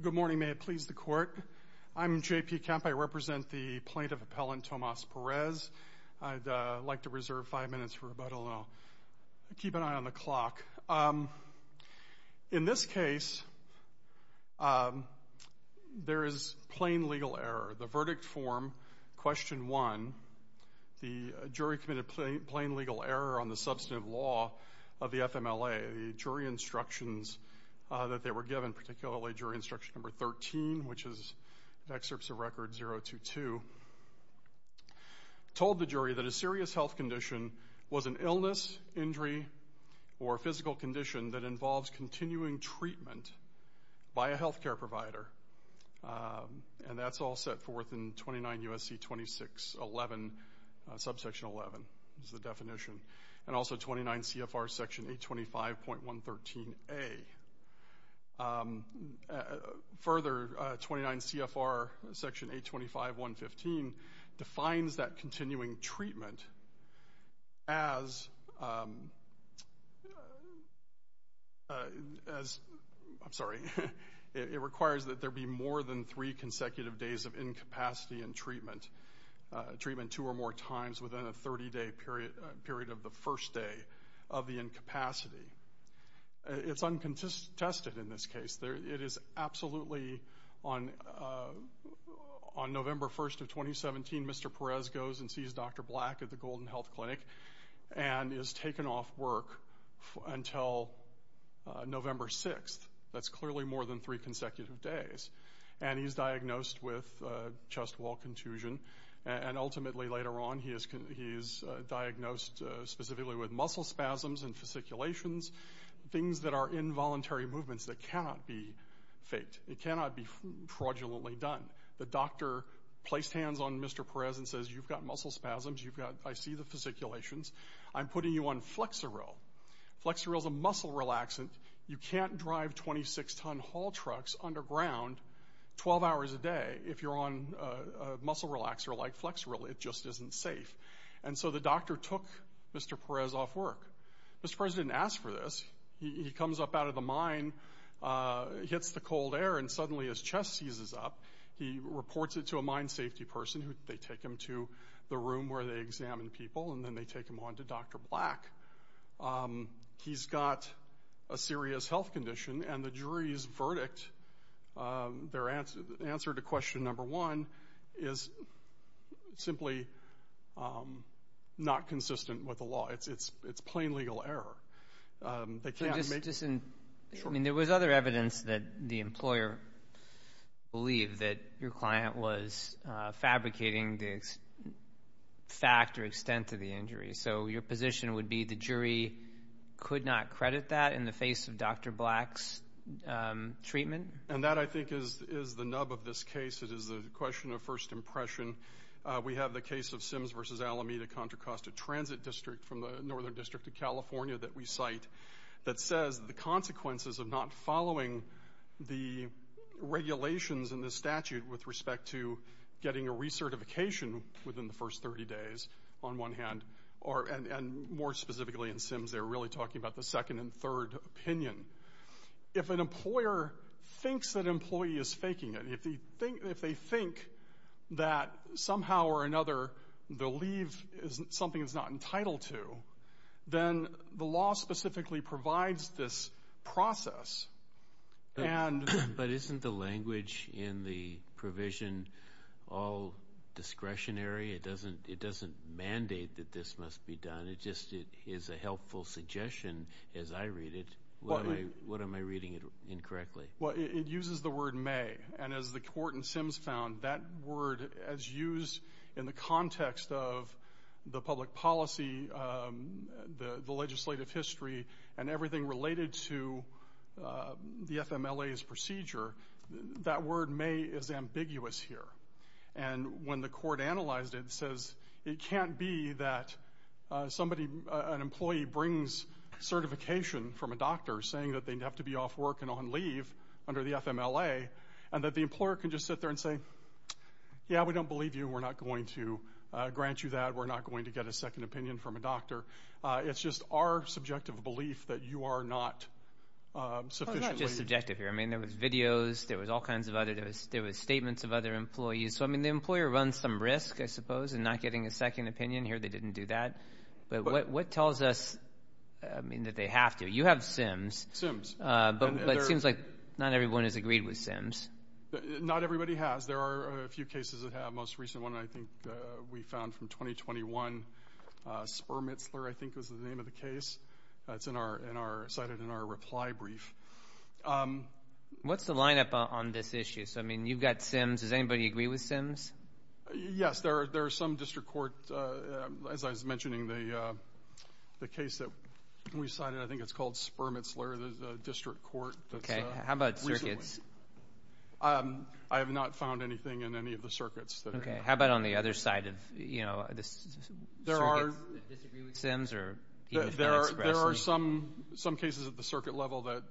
Good morning. May it please the Court. I'm J.P. Kemp. I represent the plaintiff-appellant Tomas Perez. I'd like to reserve five minutes for rebuttal, and I'll keep an eye on the clock. In this case, there is plain legal error. The verdict form, Question 1, the jury committed plain legal error on the substantive law of the FMLA. The jury instructions that they were given, particularly Jury Instruction No. 13, which is Excerpts of Record 022, told the jury that a serious health condition was an illness, injury, or physical condition that involves continuing treatment by a health care provider. And that's all set forth in 29 U.S.C. 2611, subsection 11 is the definition. And also 29 CFR Section 825.113A. Further, 29 CFR Section 825.115 defines that continuing treatment as, I'm sorry, it requires that there be more than three consecutive days of incapacity in treatment, treatment two or more times within a 30-day period of the first day of the incapacity. It's uncontested in this case. It is absolutely on November 1st of 2017, Mr. Perez goes and sees Dr. Black at the Golden Health Clinic and is taken off work until November 6th. That's clearly more than three consecutive days. And he's diagnosed with chest wall contusion. And ultimately, later on, he is diagnosed specifically with muscle spasms and fasciculations, things that are involuntary movements that cannot be faked. It cannot be fraudulently done. The doctor placed hands on Mr. Perez and says, you've got muscle spasms, I see the fasciculations, I'm putting you on Flexeril. Flexeril is a muscle relaxant. You can't drive 26-ton haul trucks underground 12 hours a day if you're on a muscle relaxer like Flexeril. It just isn't safe. And so the doctor took Mr. Perez off work. Mr. Perez didn't ask for this. He comes up out of the mine, hits the cold air, and suddenly his chest seizes up. He reports it to a mine safety person. They take him to the room where they examine people, and then they take him on to Dr. Black. He's got a serious health condition, and the jury's verdict, their answer to question number one, is simply not consistent with the law. It's plain legal error. They can't make it. There was other evidence that the employer believed that your client was fabricating the fact or extent of the injury. So your position would be the jury could not credit that in the face of Dr. Black's treatment? And that, I think, is the nub of this case. It is a question of first impression. We have the case of Sims v. Alameda Contra Costa Transit District from the Northern District of California that we cite that says the consequences of not following the regulations in the statute with respect to getting a recertification within the first 30 days, on one hand. And more specifically in Sims, they're really talking about the second and third opinion. If an employer thinks that an employee is faking it, if they think that somehow or another the leave is something that's not entitled to, then the law specifically provides this process. But isn't the language in the provision all discretionary? It doesn't mandate that this must be done. It just is a helpful suggestion as I read it. What am I reading incorrectly? Well, it uses the word may. And as the court in Sims found, that word is used in the context of the public policy, the legislative history, and everything related to the FMLA's procedure. That word may is ambiguous here. And when the court analyzed it, it says it can't be that an employee brings certification from a doctor saying that they have to be off work and on leave under the FMLA, and that the employer can just sit there and say, yeah, we don't believe you. We're not going to grant you that. We're not going to get a second opinion from a doctor. It's just our subjective belief that you are not sufficiently. It's not just subjective here. I mean, there was videos. There was all kinds of other. There was statements of other employees. So, I mean, the employer runs some risk, I suppose, in not getting a second opinion. Here they didn't do that. But what tells us, I mean, that they have to? You have Sims. Sims. But it seems like not everyone has agreed with Sims. Not everybody has. There are a few cases that have. The most recent one, I think, we found from 2021, Spermitzler, I think, was the name of the case. It's cited in our reply brief. What's the lineup on this issue? So, I mean, you've got Sims. Does anybody agree with Sims? Yes, there are some district court, as I was mentioning, the case that we cited, I think it's called Spermitzler, the district court. Okay. How about circuits? I have not found anything in any of the circuits. Okay. How about on the other side of, you know, the circuits that disagree with Sims? There are some cases at the circuit level that,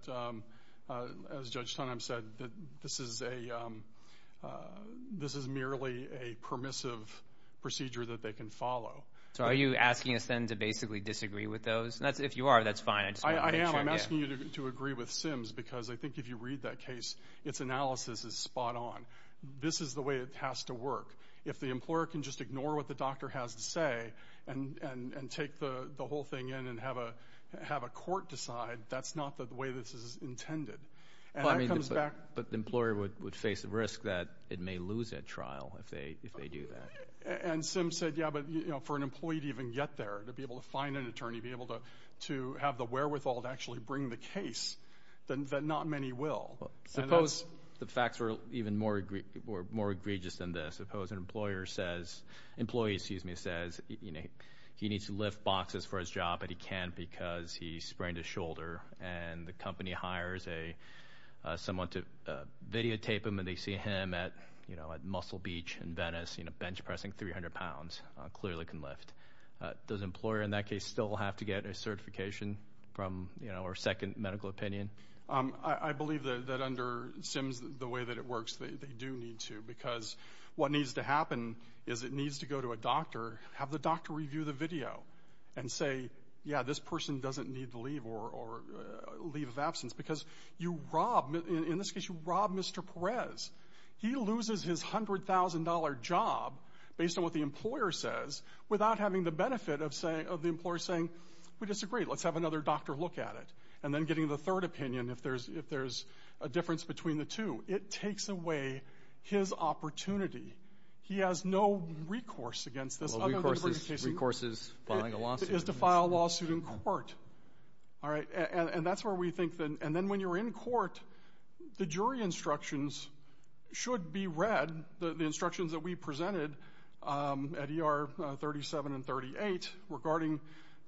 as Judge Tonem said, this is merely a permissive procedure that they can follow. So, are you asking us then to basically disagree with those? If you are, that's fine. I just want to make sure. I am. I'm asking you to agree with Sims because I think if you read that case, its analysis is spot on. This is the way it has to work. If the employer can just ignore what the doctor has to say and take the whole thing in and have a court decide, that's not the way this is intended. And that comes back. But the employer would face the risk that it may lose at trial if they do that. And Sims said, yeah, but, you know, for an employee to even get there, to be able to find an attorney, to be able to have the wherewithal to actually bring the case, that not many will. Suppose the facts were even more egregious than this. Suppose an employee says he needs to lift boxes for his job, but he can't because he sprained his shoulder, and the company hires someone to videotape him, and they see him at Muscle Beach in Venice, you know, bench pressing 300 pounds, clearly can lift. Does the employer in that case still have to get a certification from, you know, or second medical opinion? I believe that under Sims the way that it works they do need to because what needs to happen is it needs to go to a doctor, have the doctor review the video, and say, yeah, this person doesn't need to leave or leave of absence. Because you rob, in this case you rob Mr. Perez. He loses his $100,000 job based on what the employer says without having the benefit of the employer saying, we disagree, let's have another doctor look at it, and then getting the third opinion if there's a difference between the two. It takes away his opportunity. He has no recourse against this. Well, recourse is filing a lawsuit. It is to file a lawsuit in court. All right, and that's where we think that, and then when you're in court, the jury instructions should be read, the instructions that we presented at ER 37 and 38 regarding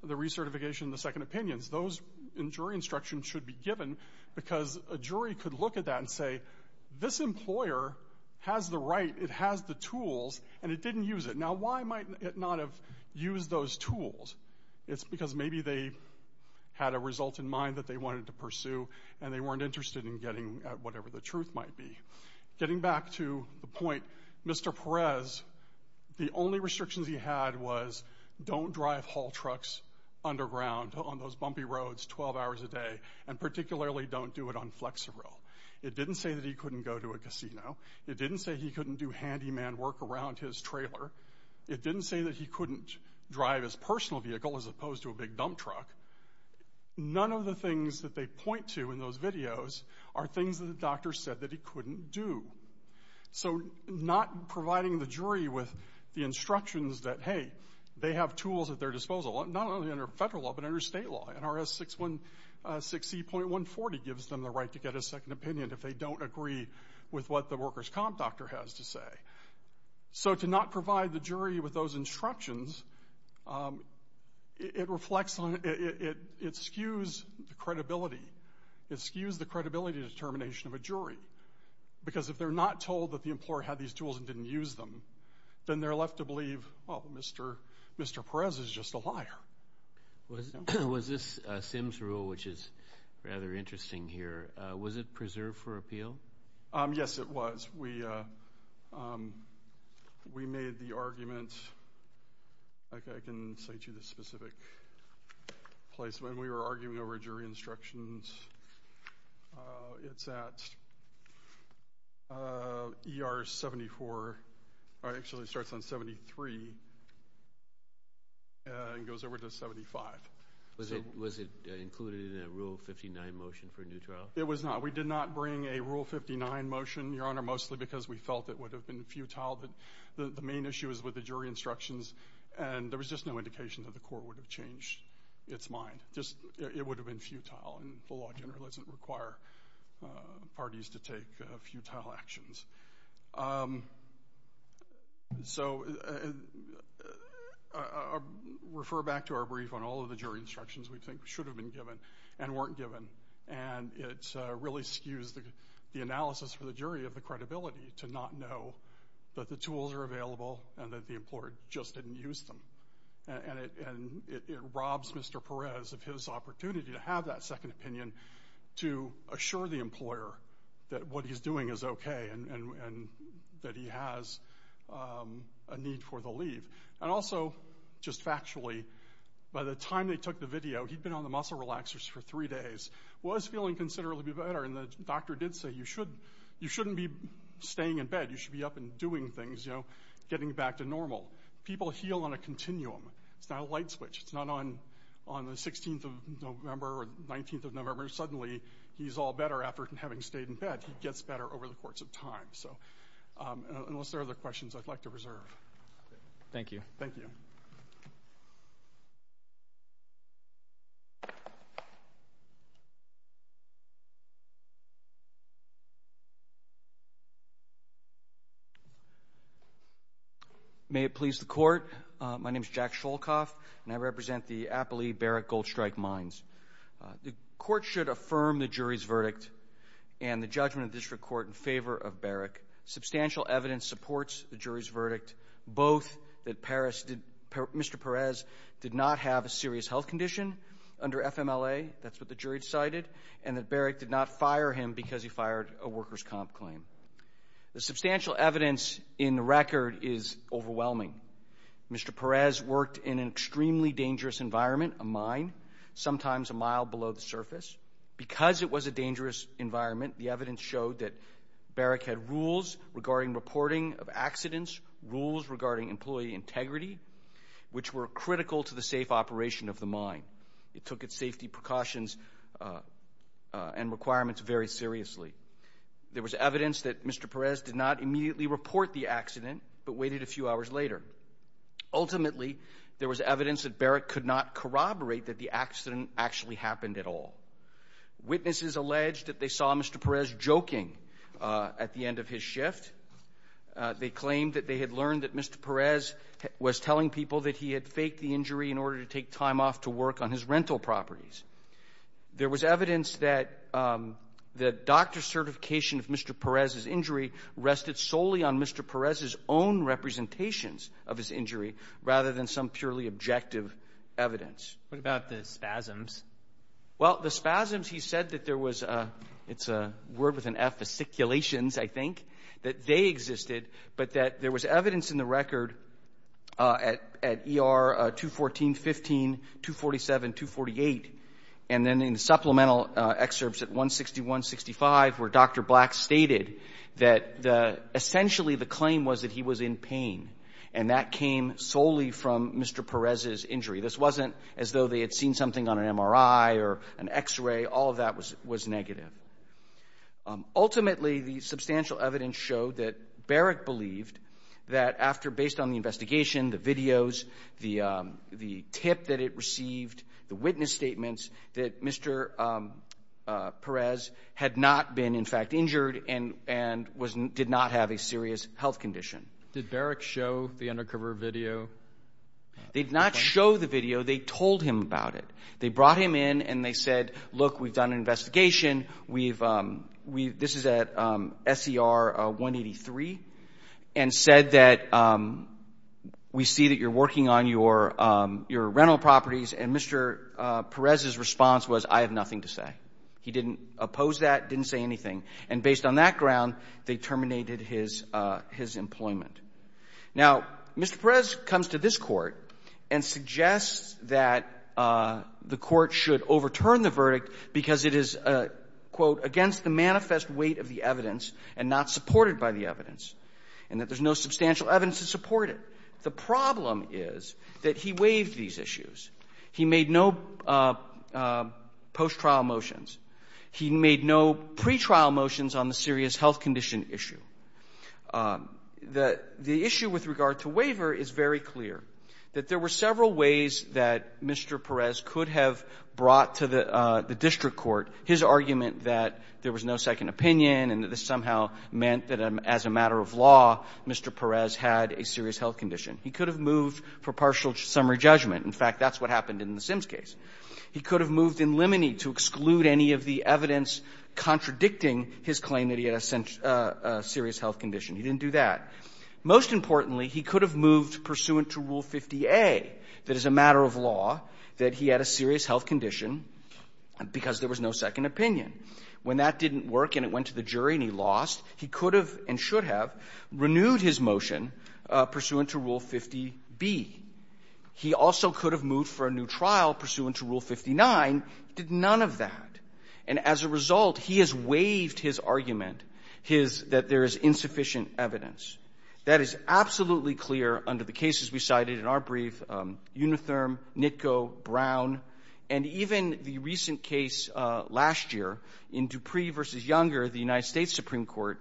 the recertification and the second opinions, those jury instructions should be given because a jury could look at that and say, this employer has the right, it has the tools, and it didn't use it. Now, why might it not have used those tools? It's because maybe they had a result in mind that they wanted to pursue and they weren't interested in getting at whatever the truth might be. Getting back to the point, Mr. Perez, the only restrictions he had was don't drive haul trucks underground on those bumpy roads 12 hours a day, and particularly don't do it on Flexerill. It didn't say that he couldn't go to a casino. It didn't say he couldn't do handyman work around his trailer. It didn't say that he couldn't drive his personal vehicle as opposed to a big dump truck. None of the things that they point to in those videos are things that the doctor said that he couldn't do. So not providing the jury with the instructions that, hey, they have tools at their disposal, not only under federal law but under state law. NRS 6E.140 gives them the right to get a second opinion if they don't agree with what the workers' comp doctor has to say. So to not provide the jury with those instructions, it reflects on it, it skews the credibility. It skews the credibility determination of a jury because if they're not told that the employer had these tools and didn't use them, then they're left to believe, oh, Mr. Perez is just a liar. Was this Simms' rule, which is rather interesting here, was it preserved for appeal? Yes, it was. We made the argument, like I can say to this specific place, when we were arguing over jury instructions. It's at ER 74. Actually, it starts on 73 and goes over to 75. Was it included in a Rule 59 motion for a new trial? It was not. We did not bring a Rule 59 motion, Your Honor, mostly because we felt it would have been futile. The main issue is with the jury instructions, and there was just no indication that the court would have changed its mind. It would have been futile, and the law generally doesn't require parties to take futile actions. So refer back to our brief on all of the jury instructions we think should have been given and weren't given, and it really skews the analysis for the jury of the credibility to not know that the tools are available and that the employer just didn't use them. And it robs Mr. Perez of his opportunity to have that second opinion to assure the employer that what he's doing is okay and that he has a need for the leave. And also, just factually, by the time they took the video, he'd been on the muscle relaxers for three days, was feeling considerably better, and the doctor did say, you shouldn't be staying in bed. You should be up and doing things, getting back to normal. People heal on a continuum. It's not a light switch. It's not on the 16th of November or the 19th of November, suddenly he's all better after having stayed in bed. He gets better over the course of time. Unless there are other questions I'd like to reserve. Thank you. Thank you. Thank you. May it please the Court. My name is Jack Sholkoff, and I represent the Appalee-Barrick Gold Strike Mines. The Court should affirm the jury's verdict and the judgment of the District Court in favor of Barrick. Substantial evidence supports the jury's verdict, both that Mr. Perez did not have a serious health condition under FMLA, that's what the jury decided, and that Barrick did not fire him because he fired a workers' comp claim. The substantial evidence in the record is overwhelming. Mr. Perez worked in an extremely dangerous environment, a mine, sometimes a mile below the surface. Because it was a dangerous environment, the evidence showed that Barrick had rules regarding reporting of accidents, rules regarding employee integrity, which were critical to the safe operation of the mine. It took its safety precautions and requirements very seriously. There was evidence that Mr. Perez did not immediately report the accident but waited a few hours later. Ultimately, there was evidence that Barrick could not corroborate that the accident actually happened at all. Witnesses alleged that they saw Mr. Perez joking at the end of his shift. They claimed that they had learned that Mr. Perez was telling people that he had faked the injury in order to take time off to work on his rental properties. There was evidence that the doctor's certification of Mr. Perez's injury rested solely on Mr. Perez's own representations of his injury rather than some purely objective evidence. What about the spasms? Well, the spasms, he said that there was a — it's a word with an F, fasciculations, I think — that they existed, but that there was evidence in the record at ER 214, 15, 247, 248, and then in supplemental excerpts at 161, 65, where Dr. Black stated that essentially the claim was that he was in pain, and that came solely from Mr. Perez's injury. This wasn't as though they had seen something on an MRI or an X-ray. All of that was negative. Ultimately, the substantial evidence showed that Berrick believed that after, based on the investigation, the videos, the tip that it received, the witness statements, that Mr. Perez had not been, in fact, injured and did not have a serious health condition. Did Berrick show the undercover video? They did not show the video. They told him about it. They brought him in, and they said, look, we've done an investigation. We've — this is at SCR 183, and said that we see that you're working on your rental properties. And Mr. Perez's response was, I have nothing to say. He didn't oppose that, didn't say anything. And based on that ground, they terminated his employment. Now, Mr. Perez comes to this Court and suggests that the Court should overturn the verdict because it is, quote, against the manifest weight of the evidence and not supported by the evidence, and that there's no substantial evidence to support it. The problem is that he waived these issues. He made no post-trial motions. He made no pretrial motions on the serious health condition issue. The issue with regard to waiver is very clear, that there were several ways that Mr. Perez could have brought to the district court his argument that there was no second opinion and that this somehow meant that as a matter of law, Mr. Perez had a serious health condition. He could have moved for partial summary judgment. In fact, that's what happened in the Sims case. He could have moved in limine to exclude any of the evidence contradicting his claim that he had a serious health condition. He didn't do that. Most importantly, he could have moved pursuant to Rule 50a, that as a matter of law, that he had a serious health condition because there was no second opinion. When that didn't work and it went to the jury and he lost, he could have and should have renewed his motion pursuant to Rule 50b. He also could have moved for a new trial pursuant to Rule 59. He did none of that. And as a result, he has waived his argument, his that there is insufficient evidence. That is absolutely clear under the cases we cited in our brief. Unitherm, NITCO, Brown, and even the recent case last year in Dupree v. Younger, the United States Supreme Court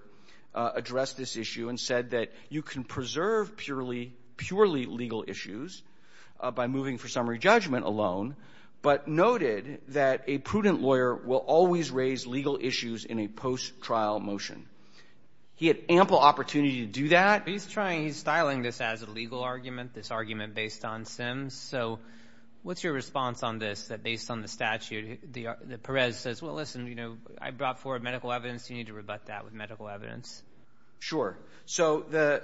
addressed this issue and said that you can preserve purely legal issues by moving for summary judgment alone, but noted that a prudent lawyer will always raise legal issues in a post-trial motion. He had ample opportunity to do that. He's trying to style this as a legal argument, this argument based on Sims. So what's your response on this, that based on the statute, that Perez says, well, listen, you know, I brought forward medical evidence. You need to rebut that with medical evidence. Sure. So the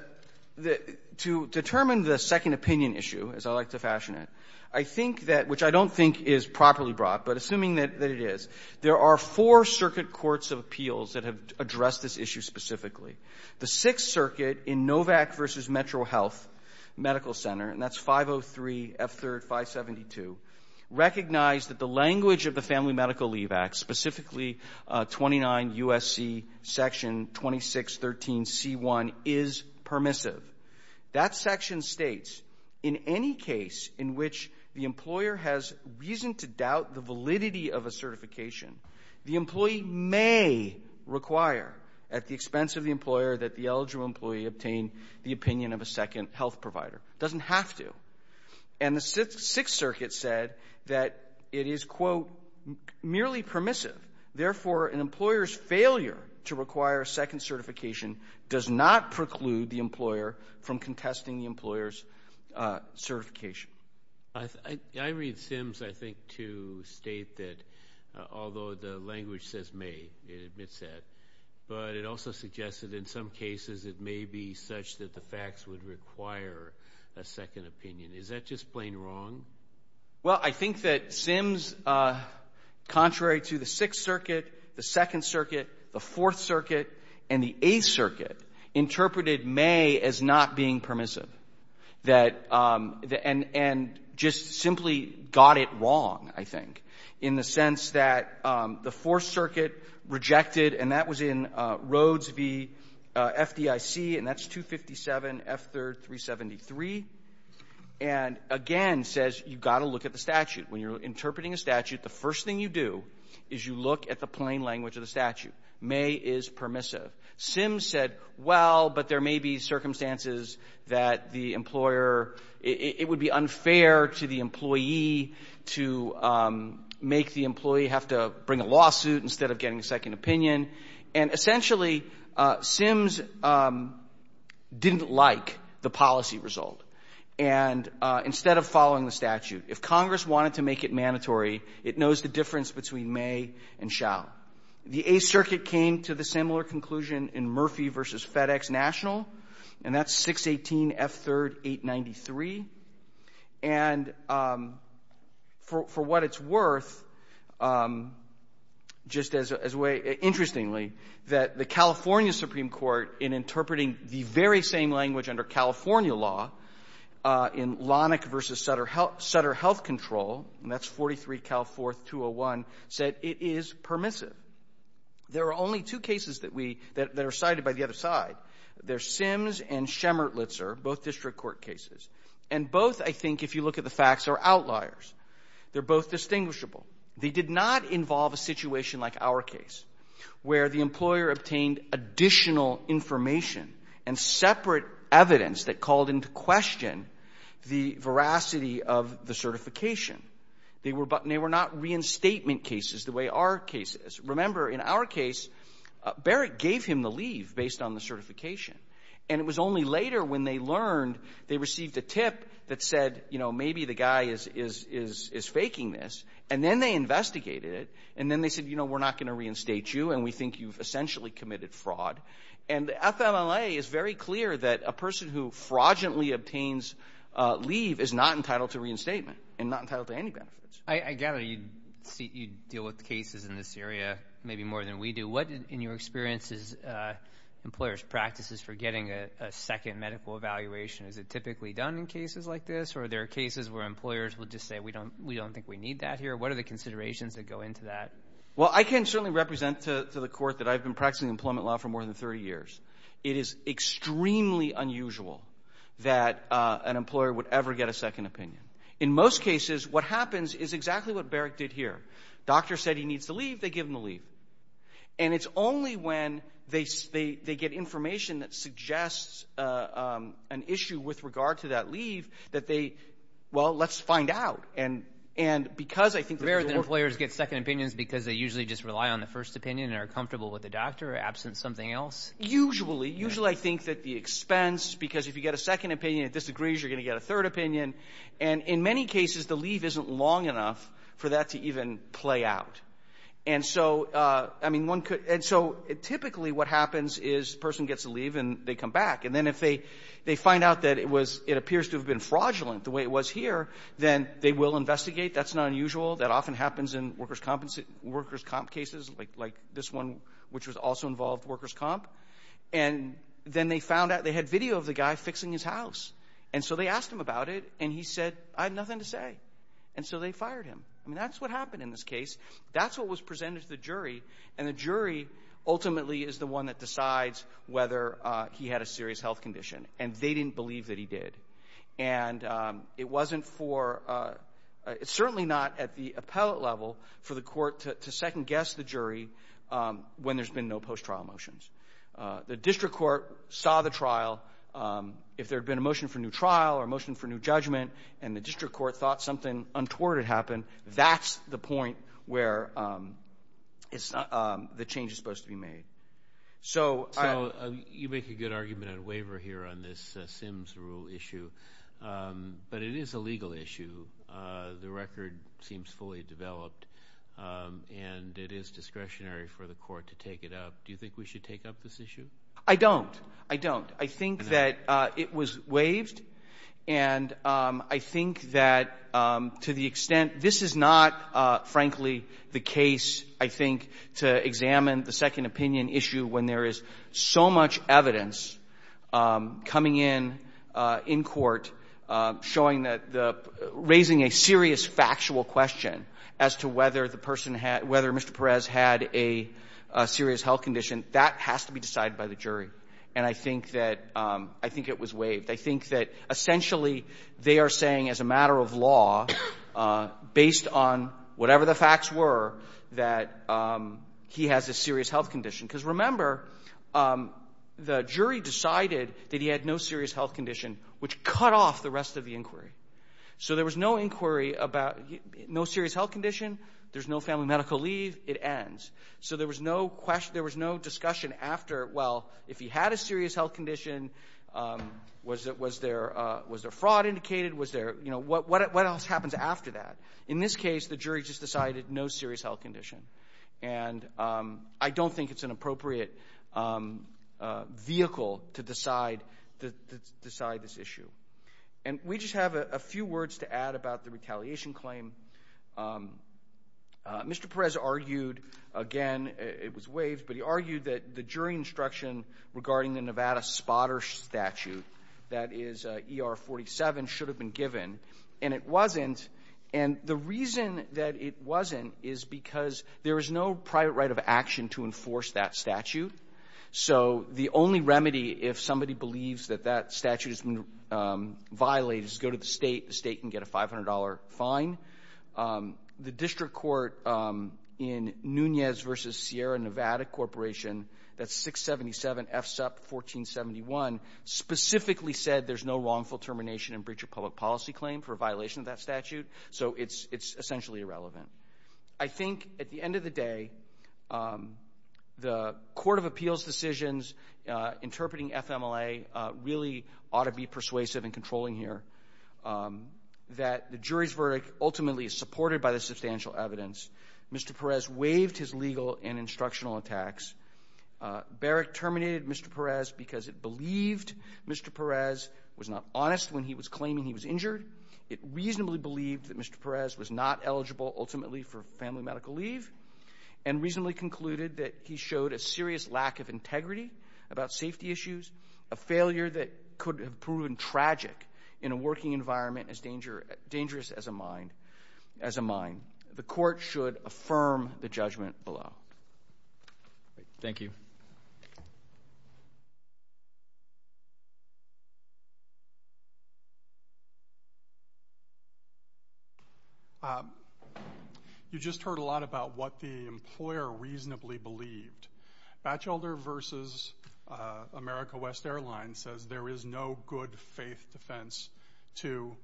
to determine the second opinion issue, as I like to fashion it, I think that, which I don't think is properly brought, but assuming that it is, there are four circuit courts of appeals that have addressed this issue specifically. The Sixth Circuit in Novak v. Metro Health Medical Center, and that's 503 F3rd 572, recognized that the language of the Family Medical Leave Act, specifically 29 U.S.C. Section 2613c1, is permissive. That section states, in any case in which the employer has reason to doubt the validity of a certification, the employee may require at the expense of the employer that the eligible employee obtain the opinion of a second health provider. It doesn't have to. And the Sixth Circuit said that it is, quote, merely permissive. Therefore, an employer's failure to require a second certification does not preclude the employer from contesting the employer's certification. I read Sims, I think, to state that, although the language says may, it admits that, but it also suggested in some cases it may be such that the facts would require a second opinion. Is that just plain wrong? Well, I think that Sims, contrary to the Sixth Circuit, the Second Circuit, the being permissive, that the end, and just simply got it wrong, I think, in the sense that the Fourth Circuit rejected, and that was in Rhodes v. FDIC, and that's 257 F3rd 373, and again says you've got to look at the statute. When you're interpreting a statute, the first thing you do is you look at the plain language of the statute. May is permissive. Sims said, well, but there may be circumstances that the employer, it would be unfair to the employee to make the employee have to bring a lawsuit instead of getting a second opinion. And essentially, Sims didn't like the policy result. And instead of following the statute, if Congress wanted to make it mandatory, it knows the difference between may and shall. The Eighth Circuit came to the similar conclusion in Murphy v. FedEx National, and that's 618 F3rd 893. And for what it's worth, just as a way, interestingly, that the California Supreme Court, in interpreting the very same language under California law in Lonick v. Sutter Health Control, and that's 43 Cal 4th 201, said it is permissive. There are only two cases that we – that are cited by the other side. There's Sims and Schemertlitzer, both district court cases. And both, I think, if you look at the facts, are outliers. They're both distinguishable. They did not involve a situation like our case, where the employer obtained additional information and separate evidence that called into question the veracity of the certification. They were not reinstatement cases the way our case is. Remember, in our case, Barrett gave him the leave based on the certification. And it was only later, when they learned, they received a tip that said, you know, maybe the guy is faking this. And then they investigated it, and then they said, you know, we're not going to reinstate you, and we think you've essentially committed fraud. And the FMLA is very clear that a person who fraudulently obtains leave is not entitled to reinstatement and not entitled to any benefits. I gather you deal with cases in this area maybe more than we do. What, in your experience, is employers' practices for getting a second medical evaluation? Is it typically done in cases like this, or are there cases where employers will just say, we don't think we need that here? What are the considerations that go into that? Well, I can certainly represent to the Court that I've been practicing employment law for more than 30 years. It is extremely unusual that an employer would ever get a second opinion. In most cases, what happens is exactly what Barrett did here. Doctor said he needs to leave. They give him the leave. And it's only when they get information that suggests an issue with regard to that leave that they, well, let's find out. And because I think there's a... Because they usually just rely on the first opinion and are comfortable with the doctor, absent something else? Usually. Usually I think that the expense, because if you get a second opinion that disagrees, you're going to get a third opinion. And in many cases, the leave isn't long enough for that to even play out. And so, I mean, one could — and so typically what happens is the person gets a leave and they come back. And then if they find out that it was — it appears to have been fraudulent the way it was here, then they will investigate. That's not unusual. That often happens in workers' comp cases, like this one, which was also involved workers' comp. And then they found out they had video of the guy fixing his house. And so they asked him about it, and he said, I have nothing to say. And so they fired him. I mean, that's what happened in this case. That's what was presented to the jury. And the jury ultimately is the one that decides whether he had a serious health condition. And they didn't believe that he did. And it wasn't for — certainly not at the court to second-guess the jury when there's been no post-trial motions. The district court saw the trial. If there had been a motion for new trial or a motion for new judgment and the district court thought something untoward had happened, that's the point where it's — the change is supposed to be made. So — So you make a good argument on waiver here on this Sims rule issue. But it is a And it is discretionary for the court to take it up. Do you think we should take up this issue? I don't. I don't. I think that it was waived. And I think that to the extent — this is not, frankly, the case, I think, to examine the second opinion issue when there is so much evidence coming in in court showing that the — raising a serious factual question as to whether the person had — whether Mr. Perez had a serious health condition, that has to be decided by the jury. And I think that — I think it was waived. I think that, essentially, they are saying as a matter of law, based on whatever the facts were, that he has a serious health condition. Because, remember, the jury decided that he had no serious health condition, which cut off the rest of the inquiry. So there was no inquiry about — no serious health condition. There's no family medical leave. It ends. So there was no question — there was no discussion after, well, if he had a serious health condition, was there — was there fraud indicated? Was there — you know, what else happens after that? In this case, the jury just decided, no serious health condition. And I don't think it's an appropriate vehicle to decide — to decide this issue. And we just have a few words to add about the retaliation claim. Mr. Perez argued, again, it was waived, but he argued that the jury instruction regarding the Nevada spotter statute, that is ER 47, should have been given. And it wasn't. And the reason that it wasn't is because there is no private right of action to enforce that statute. So the only remedy, if somebody believes that that statute has been violated, is go to the state. The state can get a $500 fine. The district court in Nunez v. Sierra Nevada Corporation, that's 677 F. Supp. 1471, specifically said there's no wrongful termination and breach of public policy claim for violation of that statute. So it's — it's essentially irrelevant. I think, at the end of the day, the court of appeals decisions interpreting FMLA really ought to be persuasive and controlling here, that the jury's verdict ultimately is supported by the substantial evidence. Mr. Perez waived his legal and instructional attacks. Barrick terminated Mr. Perez because it believed Mr. Perez was not honest when he was claiming he was injured. It reasonably believed that Mr. Perez was not eligible ultimately for family medical leave and reasonably concluded that he showed a serious lack of integrity about safety issues, a failure that could have proven tragic in a working environment as dangerous as a mine. The court should affirm the judgment below. Thank you. You just heard a lot about what the employer reasonably believed. Batchelder v. America West Airlines says there is no good faith defense to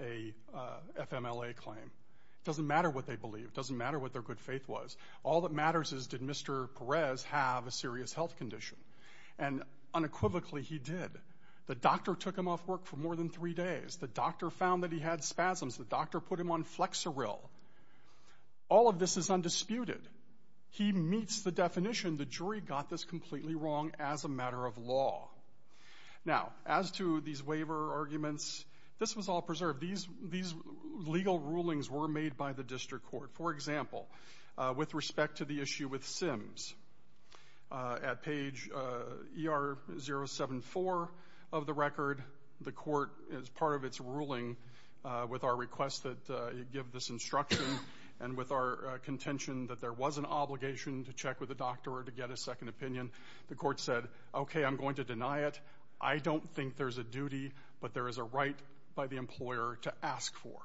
a FMLA claim. It doesn't matter what they believe. It doesn't matter what their good faith was. All that matters is, did Mr. Perez have a serious health condition? And unequivocally, he did. The doctor took him off work for more than three days. The doctor found that he had spasms. The doctor put him on Flexeril. All of this is undisputed. He meets the definition. The jury got this completely wrong as a matter of law. Now, as to these waiver arguments, this was all preserved. These legal rulings were made by the district court. For example, with respect to the issue with SIMS, at page ER074 of the record, the court, as part of its ruling, with our request that it give this instruction and with our contention that there was an obligation to check with the doctor or to get a second opinion, the court said, okay, I'm going to deny it. I don't think there's a duty, but there is a right by the employer to ask for.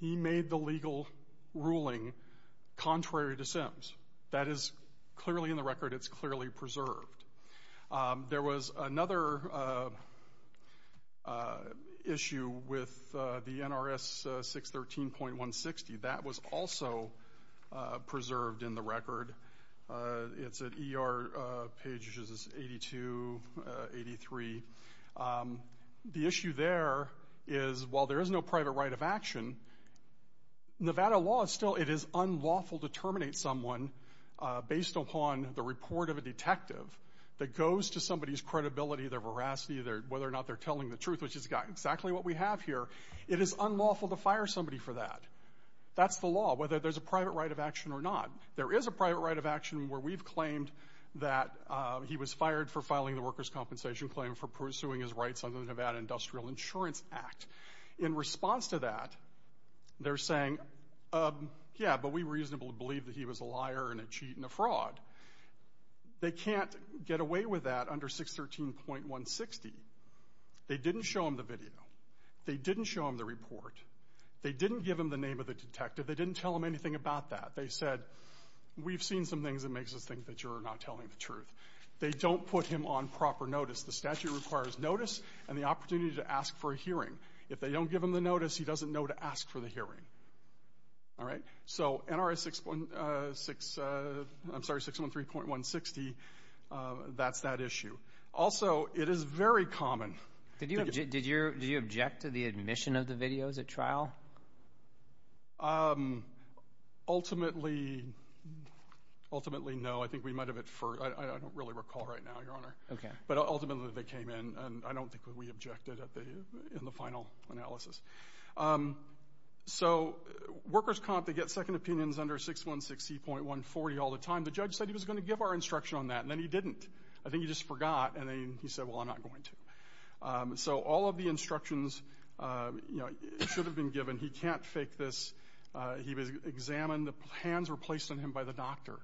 He made the legal ruling contrary to SIMS. That is clearly in the record. It's clearly preserved. There was another issue with the NRS 613.160. That was also preserved in the record. It's at ER pages 82, 83. The issue there is, while there is no private right of action, Nevada law is still, it is unlawful to terminate someone based upon the report of a detective that goes to somebody's credibility, their veracity, whether or not they're telling the truth, which is exactly what we have here. It is unlawful to fire somebody for that. That's the law, whether there's a private right of action or not. There is a private right of action where we've claimed that he was fired for filing the workers' compensation claim for pursuing his rights under the Nevada Industrial Insurance Act. In response to that, they're saying, yeah, but we reasonably believe that he was a liar and a cheat and a fraud. They can't get away with that under 613.160. They didn't show him the video. They didn't show him the report. They didn't give him the name of the detective. They didn't tell him anything about that. They said, we've seen some things that makes us think that you're not telling the truth. They don't put him on proper notice. The statute requires notice and the opportunity to ask for a hearing. If they don't give him the notice, he doesn't know to ask for the hearing. All right? So NRA 613.160, that's that issue. Also, it is very common. Did you object to the admission of the videos at trial? Ultimately, no. I don't really recall right now, Your Honor. But ultimately, they came in and I don't think that we objected in the final analysis. So workers' comp, they get second opinions under 616.140 all the time. The judge said he was going to give our instruction on that. And then he didn't. I think he just forgot. And then he said, well, I'm not going to. So all of the instructions should have been given. He can't fake this. He was examined. The hands were placed on him by the doctor.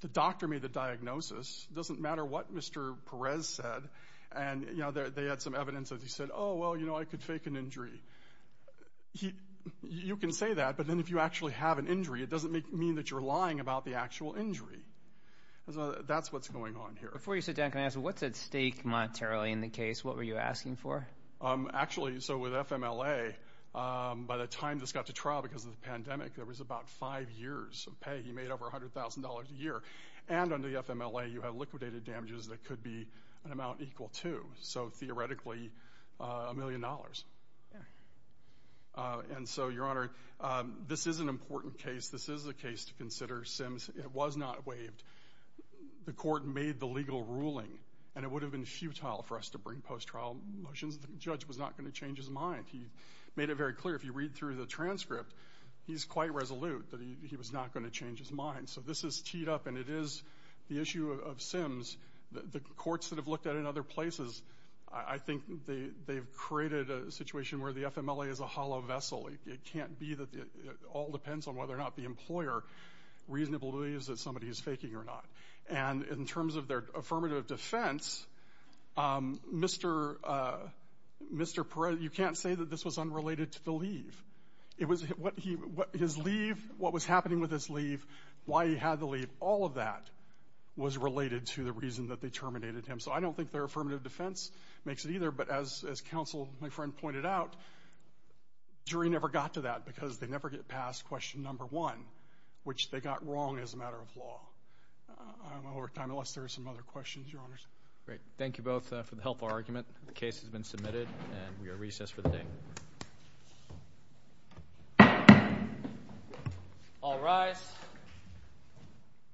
The doctor made the diagnosis. It doesn't matter what Mr. Perez said. And they had some evidence that he said, oh, well, you know, I could fake an injury. You can say that, but then if you actually have an injury, it doesn't mean that you're lying about the actual injury. That's what's going on here. Before you sit down, can I ask, what's at stake monetarily in the case? What were you asking for? Actually, so with FMLA, by the time this got to trial because of the pandemic, there was about five years of pay. He made over $100,000 a year. And under the FMLA, you have liquidated damages that could be an amount equal to, so theoretically, a million dollars. And so, Your Honor, this is an important case. This is a case to consider. Sims was not waived. The court made the legal ruling, and it would have been futile for us to bring post-trial motions. The judge was not going to change his mind. He made it very clear. If you read through the transcript, he's quite resolute that he was not going to change his mind. So this is teed up, and it is the issue of Sims. The courts that have looked at it in this way, I think they've created a situation where the FMLA is a hollow vessel. It can't be that it all depends on whether or not the employer reasonably believes that somebody is faking or not. And in terms of their affirmative defense, Mr. Perez, you can't say that this was unrelated to the leave. His leave, what was happening with his leave, why he had the leave, all of that was related to the reason that they terminated him. So I don't think their affirmative defense makes it either, but as counsel, my friend, pointed out, jury never got to that because they never get past question number one, which they got wrong as a matter of law. I don't know if we have time, unless there are some other questions, Your Honors. Great. Thank you both for the helpful argument. The case has been submitted, and we are recessed for the day. All rise.